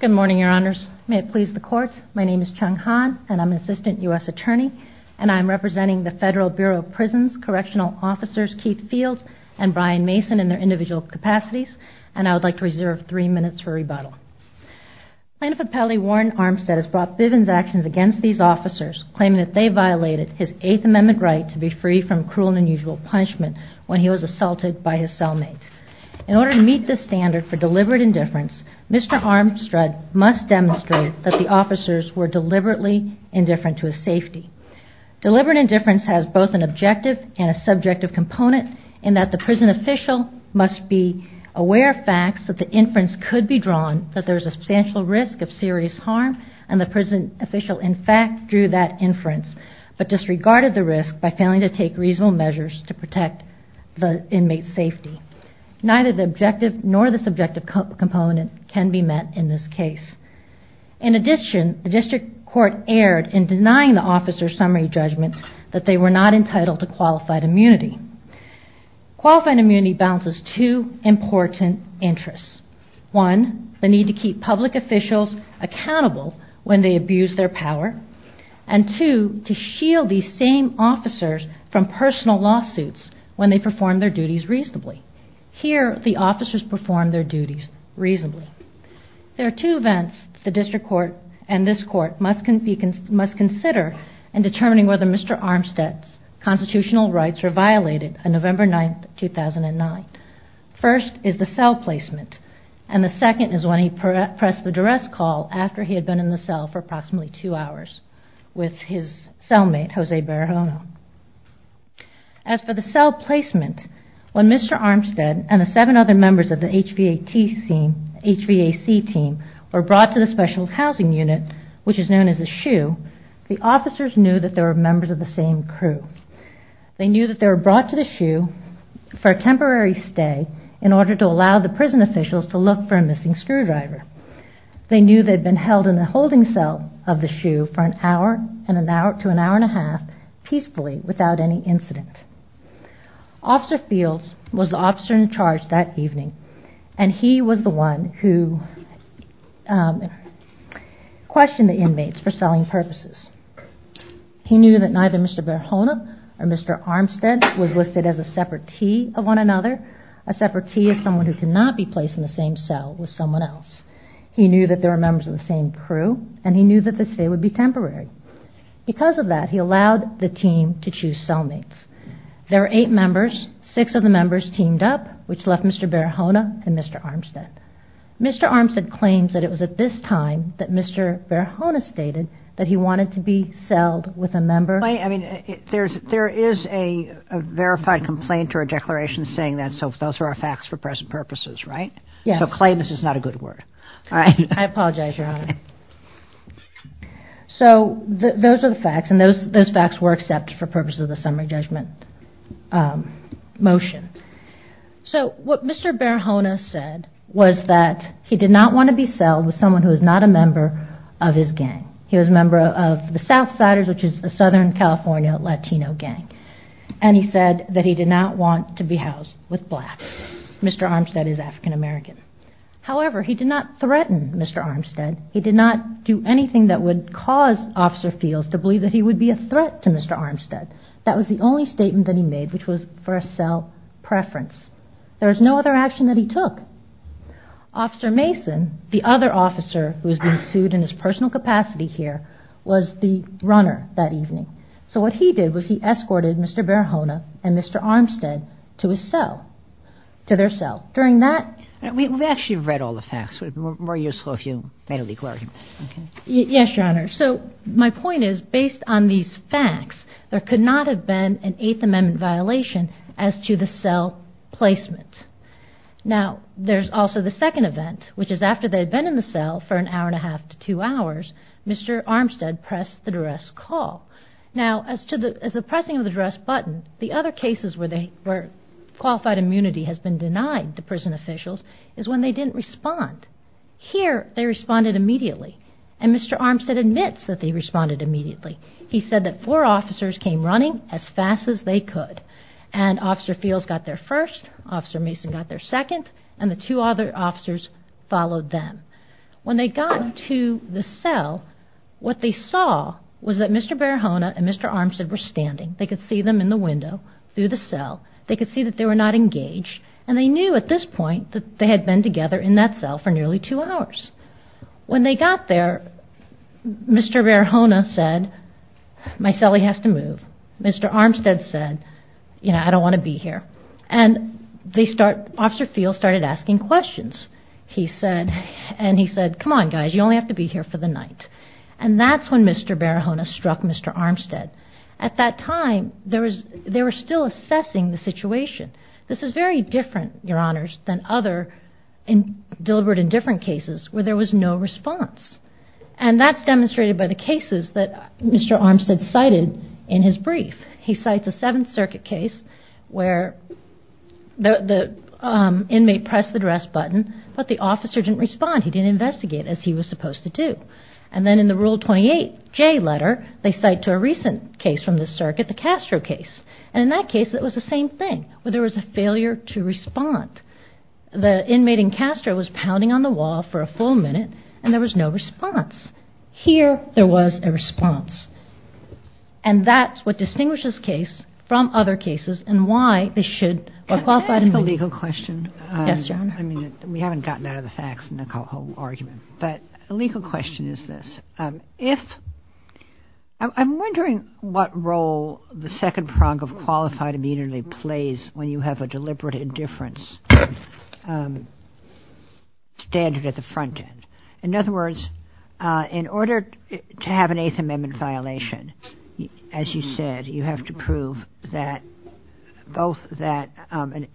Good morning, Your Honors. May it please the Court, my name is Chung Han, and I'm an Assistant U.S. Attorney, and I am representing the Federal Bureau of Prisons Correctional Officers Keith Fields and Brian Mason in their individual capacities, and I would like to reserve three minutes for rebuttal. Plaintiff Appellee Warren Armstead has brought Bivens' actions against these officers, claiming that they violated his Eighth Amendment right to be free from cruel and unusual punishment when he was assaulted by his cellmate. In order to meet this standard for deliberate indifference, Mr. Armstead must demonstrate that the officers were deliberately indifferent to his safety. Deliberate indifference has both an objective and a subjective component in that the prison official must be aware of facts that the inference could be drawn that there is a substantial risk of serious harm, and the prison official in fact drew that inference, but disregarded the risk by failing to take reasonable measures to protect the inmate's safety. Neither the objective nor the subjective component can be met in this case. In addition, the District Court erred in denying the officers' summary judgments that they were not entitled to qualified immunity. Qualified immunity balances two important interests. One, the need to keep public officials accountable when they abuse their power, and two, to shield these same officers from personal lawsuits when they perform their duties reasonably. Here the officers performed their duties reasonably. There are two events the District Court and this Court must consider in determining whether Mr. Armstead's constitutional rights were violated on November 9, 2009. First is the cell placement, and the second is when he met his cellmate, Jose Barajona. As for the cell placement, when Mr. Armstead and the seven other members of the HVAC team were brought to the Special Housing Unit, which is known as the SHU, the officers knew that they were members of the same crew. They knew that they were brought to the SHU for a temporary stay in order to allow the prison officials to look for a missing screwdriver. They knew they had been held in the holding cell of the SHU for an hour to an hour and a half, peacefully, without any incident. Officer Fields was the officer in charge that evening, and he was the one who questioned the inmates for selling purposes. He knew that neither Mr. Barajona or Mr. Armstead was listed as a separtee of one another. A separtee is someone who cannot be placed in the same cell with another person, and so they would be temporary. Because of that, he allowed the team to choose cellmates. There were eight members. Six of the members teamed up, which left Mr. Barajona and Mr. Armstead. Mr. Armstead claims that it was at this time that Mr. Barajona stated that he wanted to be celled with a member. I mean, there is a verified complaint or a declaration saying that, so those are our facts for present purposes, right? Yes. So claim is just not a good word. I apologize, Your Honor. So those are the facts, and those facts were accepted for purposes of the summary judgment motion. So what Mr. Barajona said was that he did not want to be celled with someone who was not a member of his gang. He was a member of the South Siders, which is a Southern California Latino gang, and he said that he did not want to be housed with blacks. Mr. Armstead is African American. However, he did not threaten Mr. Armstead. He did not do anything that would cause Officer Fields to believe that he would be a threat to Mr. Armstead. That was the only statement that he made, which was for a cell preference. There was no other action that he took. Officer Mason, the other officer who was being sued in his personal capacity here, was the runner that evening. So what he did was he escorted Mr. Barajona and Mr. Armstead to his cell, to their cell. During that — We actually read all the facts. It would be more useful if you made a declaration. Yes, Your Honor. So my point is, based on these facts, there could not have been an Eighth Amendment violation as to the cell placement. Now, there's also the second event, which is after they had been in the cell for an hour and a half to two hours, Mr. Armstead pressed the duress call. Now, as to the — as the pressing of the duress button, the other cases where they — where qualified immunity has been denied to prison officials is when they didn't respond. Here, they responded immediately. And Mr. Armstead admits that they responded immediately. He said that four officers came running as fast as they could. And Officer Fields got there first, Officer Mason got there second, and the two other officers in the cell, what they saw was that Mr. Barajona and Mr. Armstead were standing. They could see them in the window through the cell. They could see that they were not engaged. And they knew at this point that they had been together in that cell for nearly two hours. When they got there, Mr. Barajona said, my cellie has to move. Mr. Armstead said, you know, I don't want to be here. And they start — Officer Fields started asking questions. He said — and he said, come on, guys, you only have to be here for the night. And that's when Mr. Barajona struck Mr. Armstead. At that time, there was — they were still assessing the situation. This is very different, Your Honors, than other — deliberate and different cases where there was no response. And that's demonstrated by the cases that Mr. Armstead cited in his brief. He cites a Seventh Circuit case where the inmate pressed the arrest button, but the officer didn't respond. He didn't investigate, as he was supposed to do. And then in the Rule 28J letter, they cite to a recent case from the circuit, the Castro case. And in that case, it was the same thing, where there was a failure to respond. The inmate in Castro was pounding on the wall for a full minute, and there was no response. Here, there was a response. And that's what distinguishes this case from other cases, and why they should — Can I ask a legal question? Yes, Your Honor. I mean, we haven't gotten out of the facts in the whole argument. But a legal question is this. If — I'm wondering what role the second prong of qualified immunity plays when you have a deliberate indifference standard at the front end. In other words, in order to have an Eighth Amendment violation, as you said, you have to prove that — both that,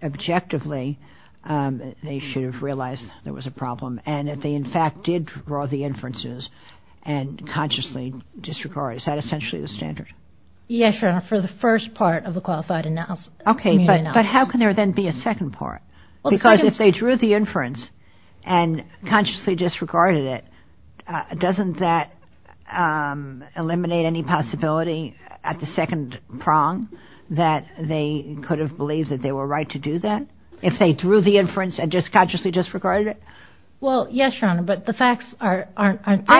objectively, they should have realized there was a problem, and that they, in fact, did draw the inferences and consciously disregarded. Is that essentially the standard? Yes, Your Honor, for the first part of the qualified immunity analysis. Okay, but how can there then be a second part? Because if they drew the inference and consciously disregarded it, doesn't that eliminate any possibility at the second prong that they could have believed that they were right to do that? If they drew the inference and just consciously disregarded it? Well, yes, Your Honor, but the facts are — I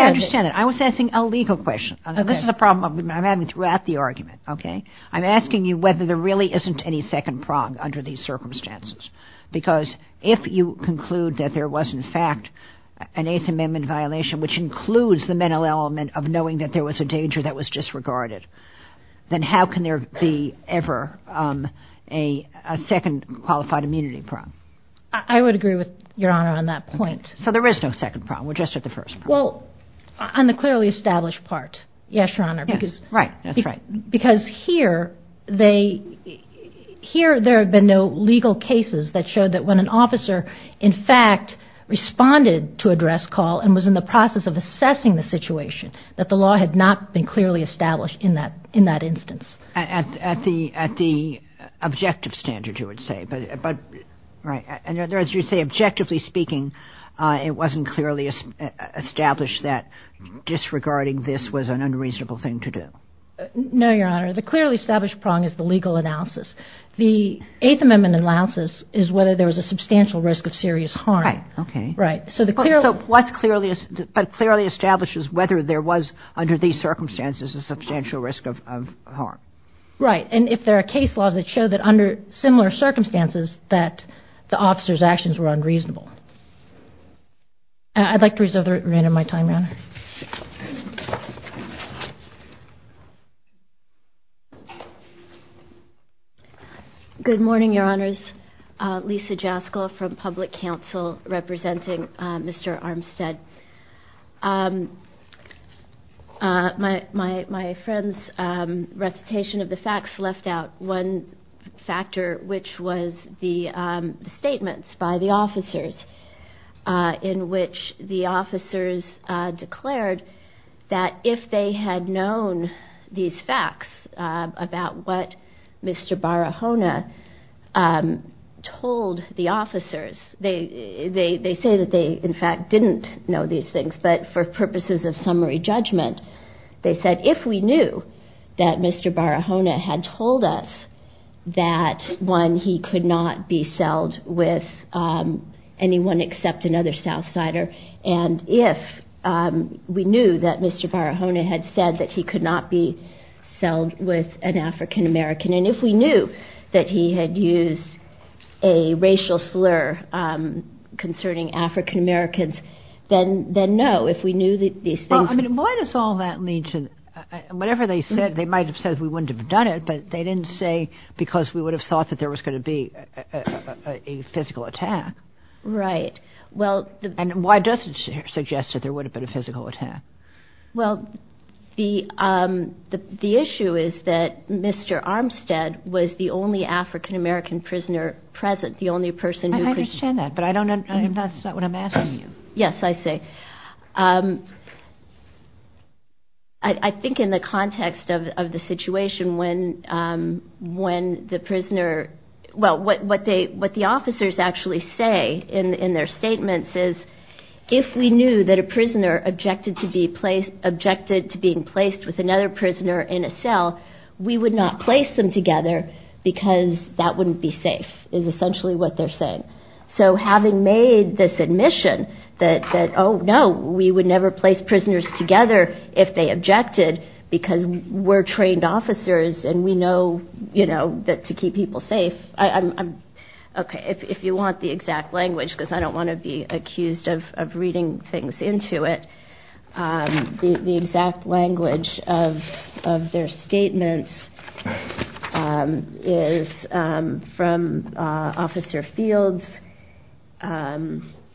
understand that. I was asking a legal question. This is a problem I'm having throughout the argument, okay? I'm asking you whether there really isn't any second prong under these there was, in fact, an Eighth Amendment violation, which includes the mental element of knowing that there was a danger that was disregarded. Then how can there be ever a second qualified immunity prong? I would agree with Your Honor on that point. So there is no second prong. We're just at the first prong. Well, on the clearly established part, yes, Your Honor, because — Right, that's right. Because here, there have been no legal cases that showed that when an officer, in fact, responded to a dress call and was in the process of assessing the situation, that the law had not been clearly established in that instance. At the objective standard, you would say, but — right. And as you say, objectively speaking, it wasn't clearly established that disregarding this was an unreasonable thing to do. No, Your Honor. The clearly established prong is the legal analysis. The Eighth Amendment analysis is whether there was a substantial risk of serious harm. Right. Okay. Right. So the clearly — So what's clearly — what clearly establishes whether there was, under these circumstances, a substantial risk of harm? Right. And if there are case laws that show that under similar circumstances, that the officer's actions were unreasonable. I'd like to reserve the remainder of my time, Your Honor. Thank you. Good morning, Your Honors. Lisa Jaskol from Public Counsel, representing Mr. Armstead. My friend's recitation of the facts left out one factor, which was the statements by the officers in which the officers declared that if they had known these facts about what Mr. Barahona told the officers — they say that they, in fact, didn't know these things, but for purposes of summary judgment, they said if we knew that Mr. Barahona had told us that, one, he could not be except another South Sider, and if we knew that Mr. Barahona had said that he could not be selled with an African-American, and if we knew that he had used a racial slur concerning African-Americans, then no, if we knew these things — Well, I mean, why does all that lead to — whatever they said, they might have said we wouldn't have done it, but they didn't say because we would have thought that there was going to be a physical attack. Right, well — And why does it suggest that there would have been a physical attack? Well, the issue is that Mr. Armstead was the only African-American prisoner present, the only person who — I understand that, but that's not what I'm asking you. Yes, I see. I think in the context of the situation when the prisoner — well, what the officers actually say in their statements is, if we knew that a prisoner objected to being placed with another prisoner in a cell, we would not place them together because that wouldn't be safe, is essentially what they're saying. So having made this admission that, oh, no, we would never place prisoners together if they objected because we're trained officers and we know, you know, that to keep people safe, I'm — okay, if you want the exact language, because I don't want to be accused of reading things into it, the exact language of their statements is from Officer Fields,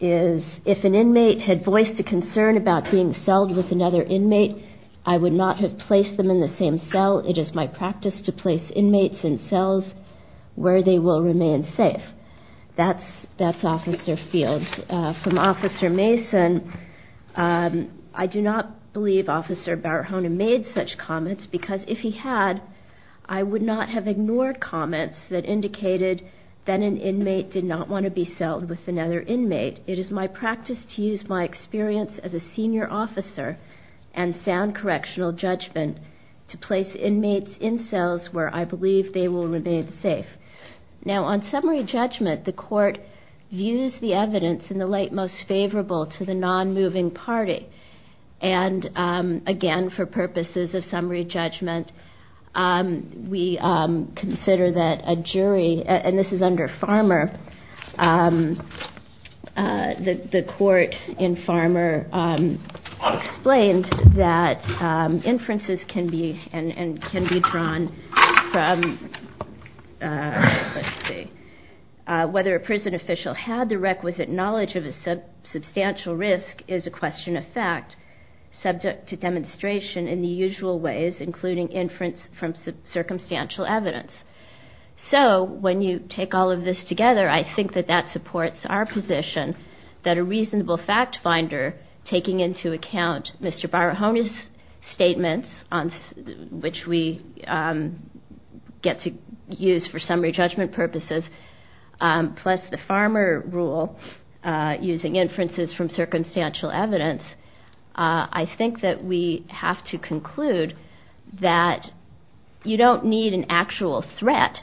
is, if an inmate had voiced a concern about being celled with another inmate, I would not have placed them in the same cell. It is my practice to place inmates in cells where they will remain safe. That's Officer Fields. From Officer Mason, I do not believe Officer Barahona made such comments because if he had, I would not have ignored comments that indicated that an inmate did not want to be celled with another inmate. It is my practice to use my experience as a senior officer and sound correctional judgment to place inmates in cells where I believe they will remain safe. Now, on summary judgment, the court views the evidence in the light most favorable to the nonmoving party. And again, for purposes of summary judgment, we consider that a jury — and this is under Farmer — the court in Farmer explained that inferences can be drawn from, let's see, whether a prison official had the requisite knowledge of a substantial risk is a question of fact subject to demonstration in the usual ways, including inference from circumstantial evidence. So when you take all of this together, I think that that supports our position that a reasonable fact finder taking into account Mr. Barahona's statements, which we get to use for summary judgment purposes, plus the Farmer rule using inferences from circumstantial evidence, I think that we have to conclude that you don't need an actual threat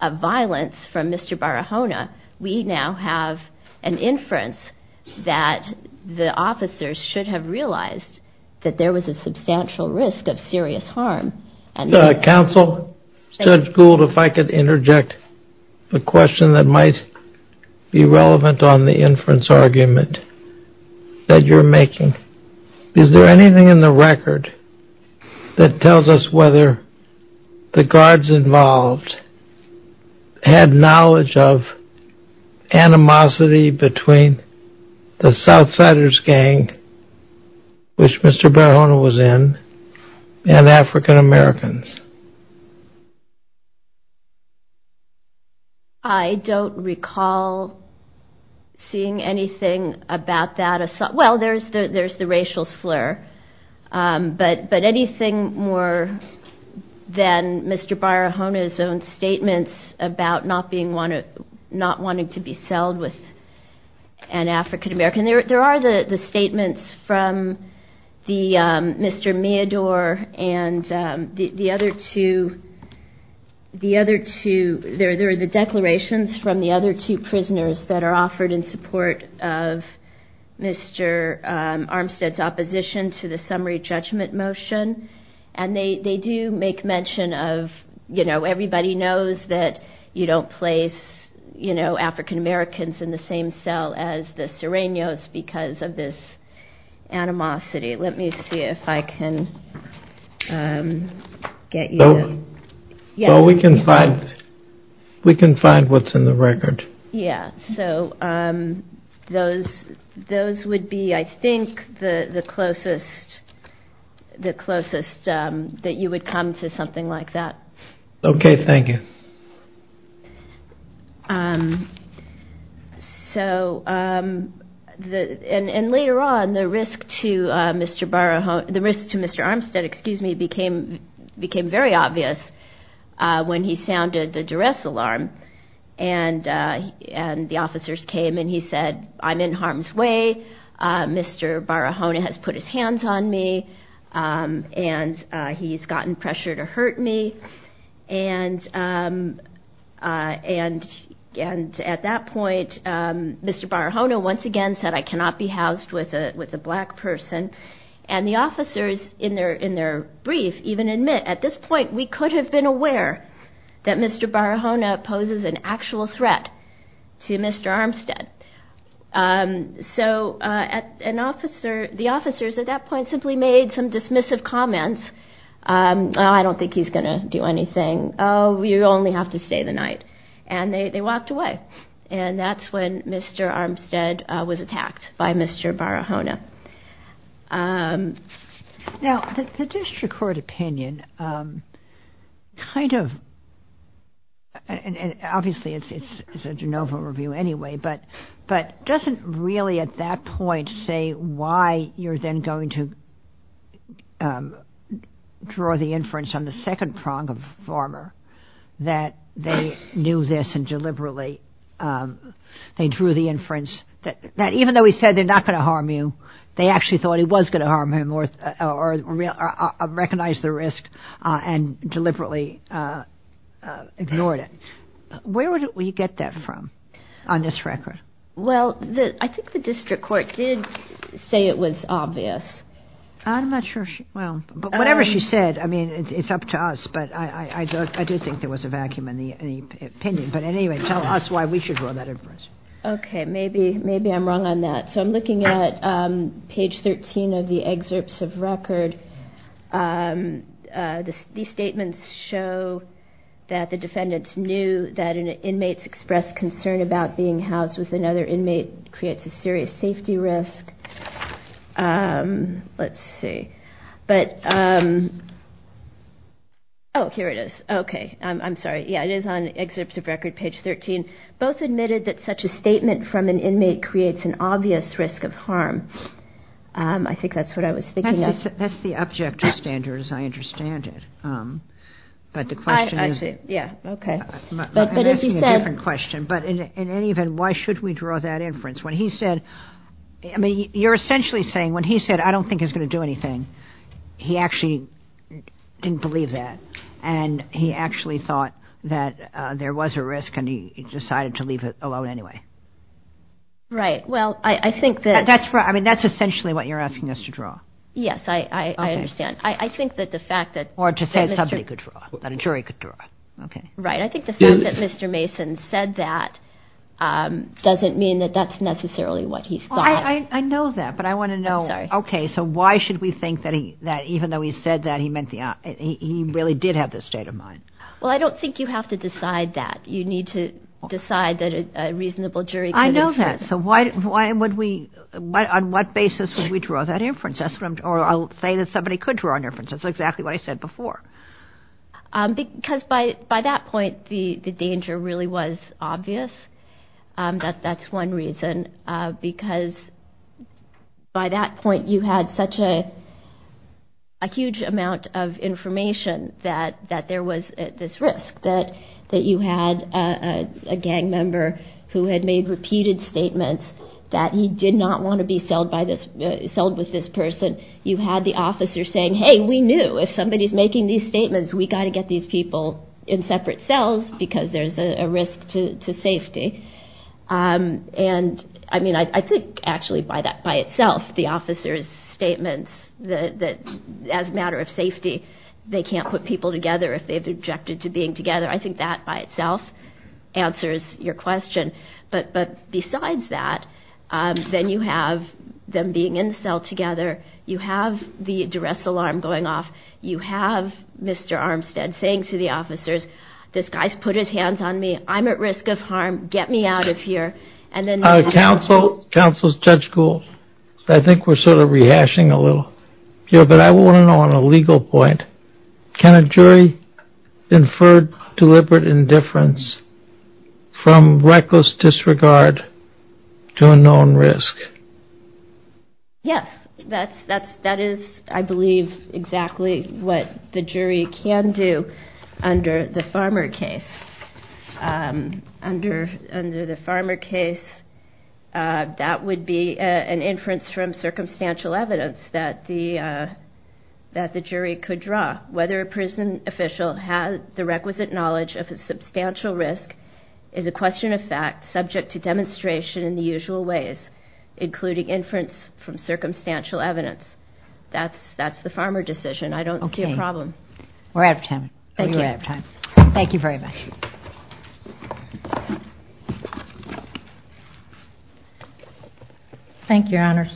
of violence from Mr. Barahona. We now have an inference that the officers should have realized that there was a substantial risk of serious harm. And — Counsel, Judge Gould, if I could interject a question that might be relevant on the inference argument that you're making. Is there anything in the record that tells us whether the guards involved had knowledge of animosity between the Southsiders gang, which Mr. Barahona was in, and African Americans? I don't recall seeing anything about that. Well, there's the racial slur. But anything more than Mr. Barahona's own statements about not wanting to be selled with an African American — there are the statements from Mr. Meador and the other two — the other two — there are the declarations from the other two prisoners that are offered in support of Mr. Armstead's opposition to the summary judgment motion. And they do make mention of, you know, everybody knows that you don't place, you know, African Americans in the same cell as the Sereños because of this animosity. Let me see if I can get you — Well, we can find — we can find what's in the record. Yeah. So those would be, I think, the closest that you would come to something like that. Okay. Thank you. So — and later on, the risk to Mr. Barahona — the risk to Mr. Armstead, excuse me, became very obvious when he sounded the duress alarm. And the officers came, and he said, I'm in harm's way. Mr. Barahona has put his hands on me, and he's gotten pressure to hurt me. And at that point, Mr. Barahona once again said, I cannot be housed with a black person. And the officers in their brief even admit, at this point, we could have been aware that Mr. Barahona poses an actual threat to Mr. Armstead. So an officer — the officers at that point simply made some dismissive comments. I don't think he's going to do anything. Oh, you only have to stay the night. And they walked away. And that's when Mr. Armstead was attacked by Mr. Barahona. Now, the district court opinion kind of — and obviously, it's a de novo review anyway, but doesn't really at that point say why you're then going to draw the inference on the second prong of farmer that they knew this and deliberately — they drew the inference that even though he said they're not going to harm you, they actually thought he was going to harm him or recognize the risk and deliberately ignored it. Where would we get that from on this record? Well, I think the district court did say it was obvious. I'm not sure she — well, but whatever she said, I mean, it's up to us. But I do think there was a vacuum in the opinion. But anyway, tell us why we should draw that inference. OK, maybe I'm wrong on that. So I'm looking at page 13 of the excerpts of record. These statements show that the defendants knew that an inmate's expressed concern about being housed with another inmate creates a serious safety risk. Let's see. But — oh, here it is. OK, I'm sorry. Yeah, it is on excerpts of record, page 13. Both admitted that such a statement from an inmate creates an obvious risk of harm. I think that's what I was thinking of. That's the object of standards. I understand it. But the question is — I see. Yeah, OK. I'm asking a different question. But in any event, why should we draw that inference? When he said — I mean, you're essentially saying when he said, I don't think he's going to do anything, he actually didn't believe that. And he actually thought that there was a risk and he decided to leave it alone anyway. Right. Well, I think that — That's right. I mean, that's essentially what you're asking us to draw. Yes, I understand. I think that the fact that — Or to say somebody could draw, that a jury could draw. OK. Right. I think the fact that Mr. Mason said that doesn't mean that that's necessarily what he thought. I know that. But I want to know — I'm sorry. OK. So why should we think that even though he said that, he really did have this state of mind? Well, I don't think you have to decide that. You need to decide that a reasonable jury — I know that. So why would we — on what basis would we draw that inference? Or I'll say that somebody could draw an inference. That's exactly what I said before. Because by that point, the danger really was obvious. That's one reason. Because by that point, you had such a huge amount of information that there was this risk. That you had a gang member who had made repeated statements that he did not want to be You had the officer saying, hey, we knew if somebody's making these statements, we got to get these people in separate cells because there's a risk to safety. And I mean, I think actually by itself, the officer's statements that as a matter of safety, they can't put people together if they've objected to being together. I think that by itself answers your question. But besides that, then you have them being in the cell together. You have the duress alarm going off. You have Mr. Armstead saying to the officers, this guy's put his hands on me. I'm at risk of harm. Get me out of here. And then — Counsel, Judge Gould, I think we're sort of rehashing a little here. But I want to know on a legal point, can a jury infer deliberate indifference from reckless disregard to a known risk? Yes, that is, I believe, exactly what the jury can do under the Farmer case. Under the Farmer case, that would be an inference from circumstantial evidence that the jury could draw. Whether a prison official has the requisite knowledge of a substantial risk is a question of fact subject to demonstration in the usual ways, including inference from circumstantial evidence. That's the Farmer decision. I don't see a problem. OK. We're out of time. Thank you. Thank you very much. Thank you, Your Honors.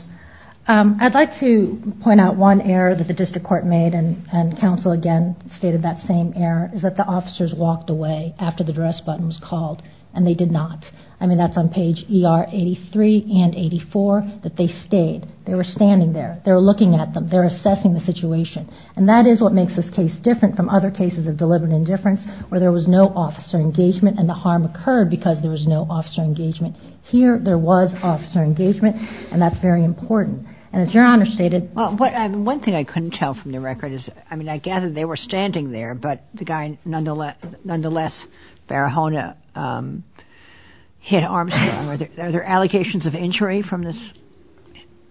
I'd like to point out one error that the district court made, and counsel again stated that same error, is that the officers walked away after the duress button was called, and they did not. I mean, that's on page ER 83 and 84, that they stayed. They were standing there. They were looking at them. They were assessing the situation. And that is what makes this case different from other cases of deliberate indifference, where there was no officer engagement, and the harm occurred because there was no officer engagement. Here, there was officer engagement. And that's very important. And as Your Honor stated— Well, one thing I couldn't tell from the record is, I mean, I gather they were standing there, but the guy, nonetheless, Barahona hit Armstead. Are there allegations of injury from this?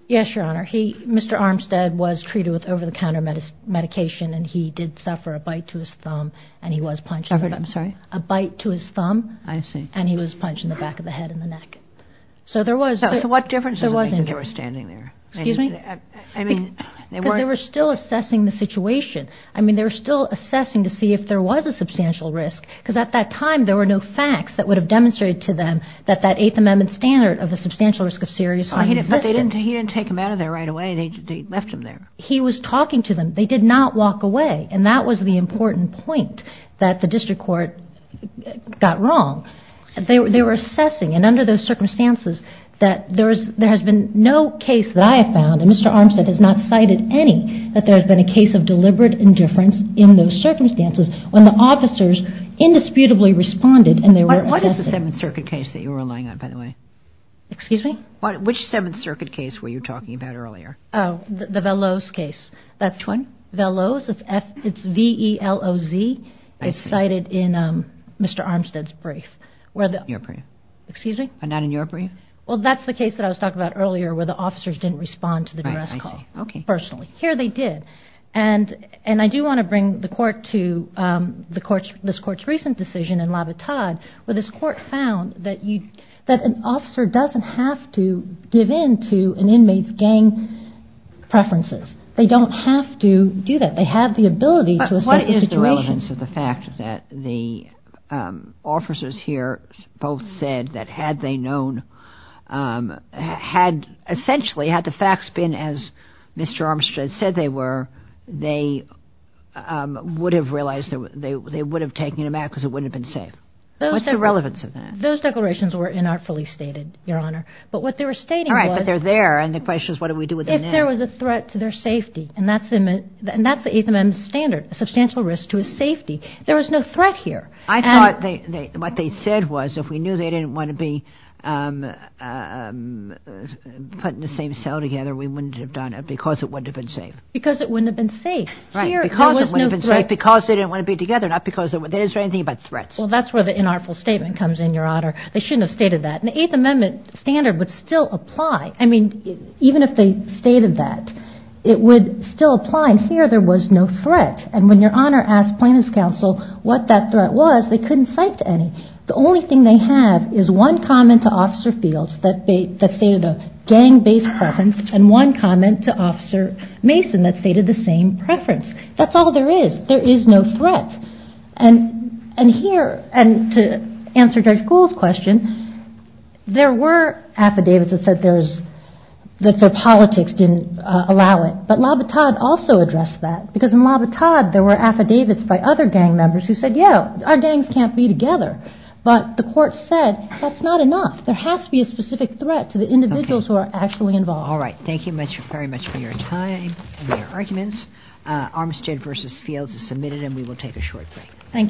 Yes, Your Honor. Mr. Armstead was treated with over-the-counter medication, and he did suffer a bite to his thumb, and he was punched in the back— I'm sorry? A bite to his thumb. I see. And he was punched in the back of the head and the neck. So there was— So what difference does it make that they were standing there? Excuse me? I mean, they weren't— They were still assessing the situation. I mean, they were still assessing to see if there was a substantial risk, because at that time, there were no facts that would have demonstrated to them that that Eighth Amendment standard of a substantial risk of serious harm existed. He didn't take him out of there right away. They left him there. He was talking to them. They did not walk away. And that was the important point that the district court got wrong. They were assessing, and under those circumstances, that there has been no case that I have found, and Mr. Armstead has not cited any, that there has been a case of deliberate indifference in those circumstances when the officers indisputably responded and they were assessing. What is the Seventh Circuit case that you were relying on, by the way? Excuse me? Which Seventh Circuit case were you talking about earlier? Oh, the Veloz case. Which one? Veloz. It's V-E-L-O-Z. I see. It's cited in Mr. Armstead's brief, where the— Your brief. Excuse me? Not in your brief? Well, that's the case that I was talking about earlier, where the officers didn't respond to the duress call personally. Here they did. And I do want to bring the court to this court's recent decision in Labatade, where this court found that an officer doesn't have to give in to an inmate's gang preferences. They don't have to do that. They have the ability to assess the situation. But what is the relevance of the fact that the officers here both said that, had they known, had—essentially, had the facts been as Mr. Armstead said they were, they would have realized—they would have taken him out because it wouldn't have been safe? What's the relevance of that? Those declarations were inartfully stated, Your Honor. But what they were stating was— All right, but they're there. And the question is, what do we do with them now? If there was a threat to their safety, and that's the Eighth Amendment standard, a substantial risk to his safety. There was no threat here. I thought what they said was, if we knew they didn't want to be put in the same cell together, we wouldn't have done it because it wouldn't have been safe. Because it wouldn't have been safe. Right, because it wouldn't have been safe. Because they didn't want to be together, not because—they didn't say anything about threats. Well, that's where the inartful statement comes in, Your Honor. They shouldn't have stated that. And the Eighth Amendment standard would still apply. I mean, even if they stated that, it would still apply. And here there was no threat. And when Your Honor asked plaintiff's counsel what that threat was, they couldn't cite any. The only thing they have is one comment to Officer Fields that stated a gang-based preference, and one comment to Officer Mason that stated the same preference. That's all there is. There is no threat. And here—and to answer Judge Gould's question, there were affidavits that said there's—that their politics didn't allow it. But Labattad also addressed that. Because in Labattad, there were affidavits by other gang members who said, yeah, our gangs can't be together. But the court said that's not enough. There has to be a specific threat to the individuals who are actually involved. All right. Thank you very much for your time and your arguments. Armistead v. Fields is submitted, and we will take a short break. Thank you.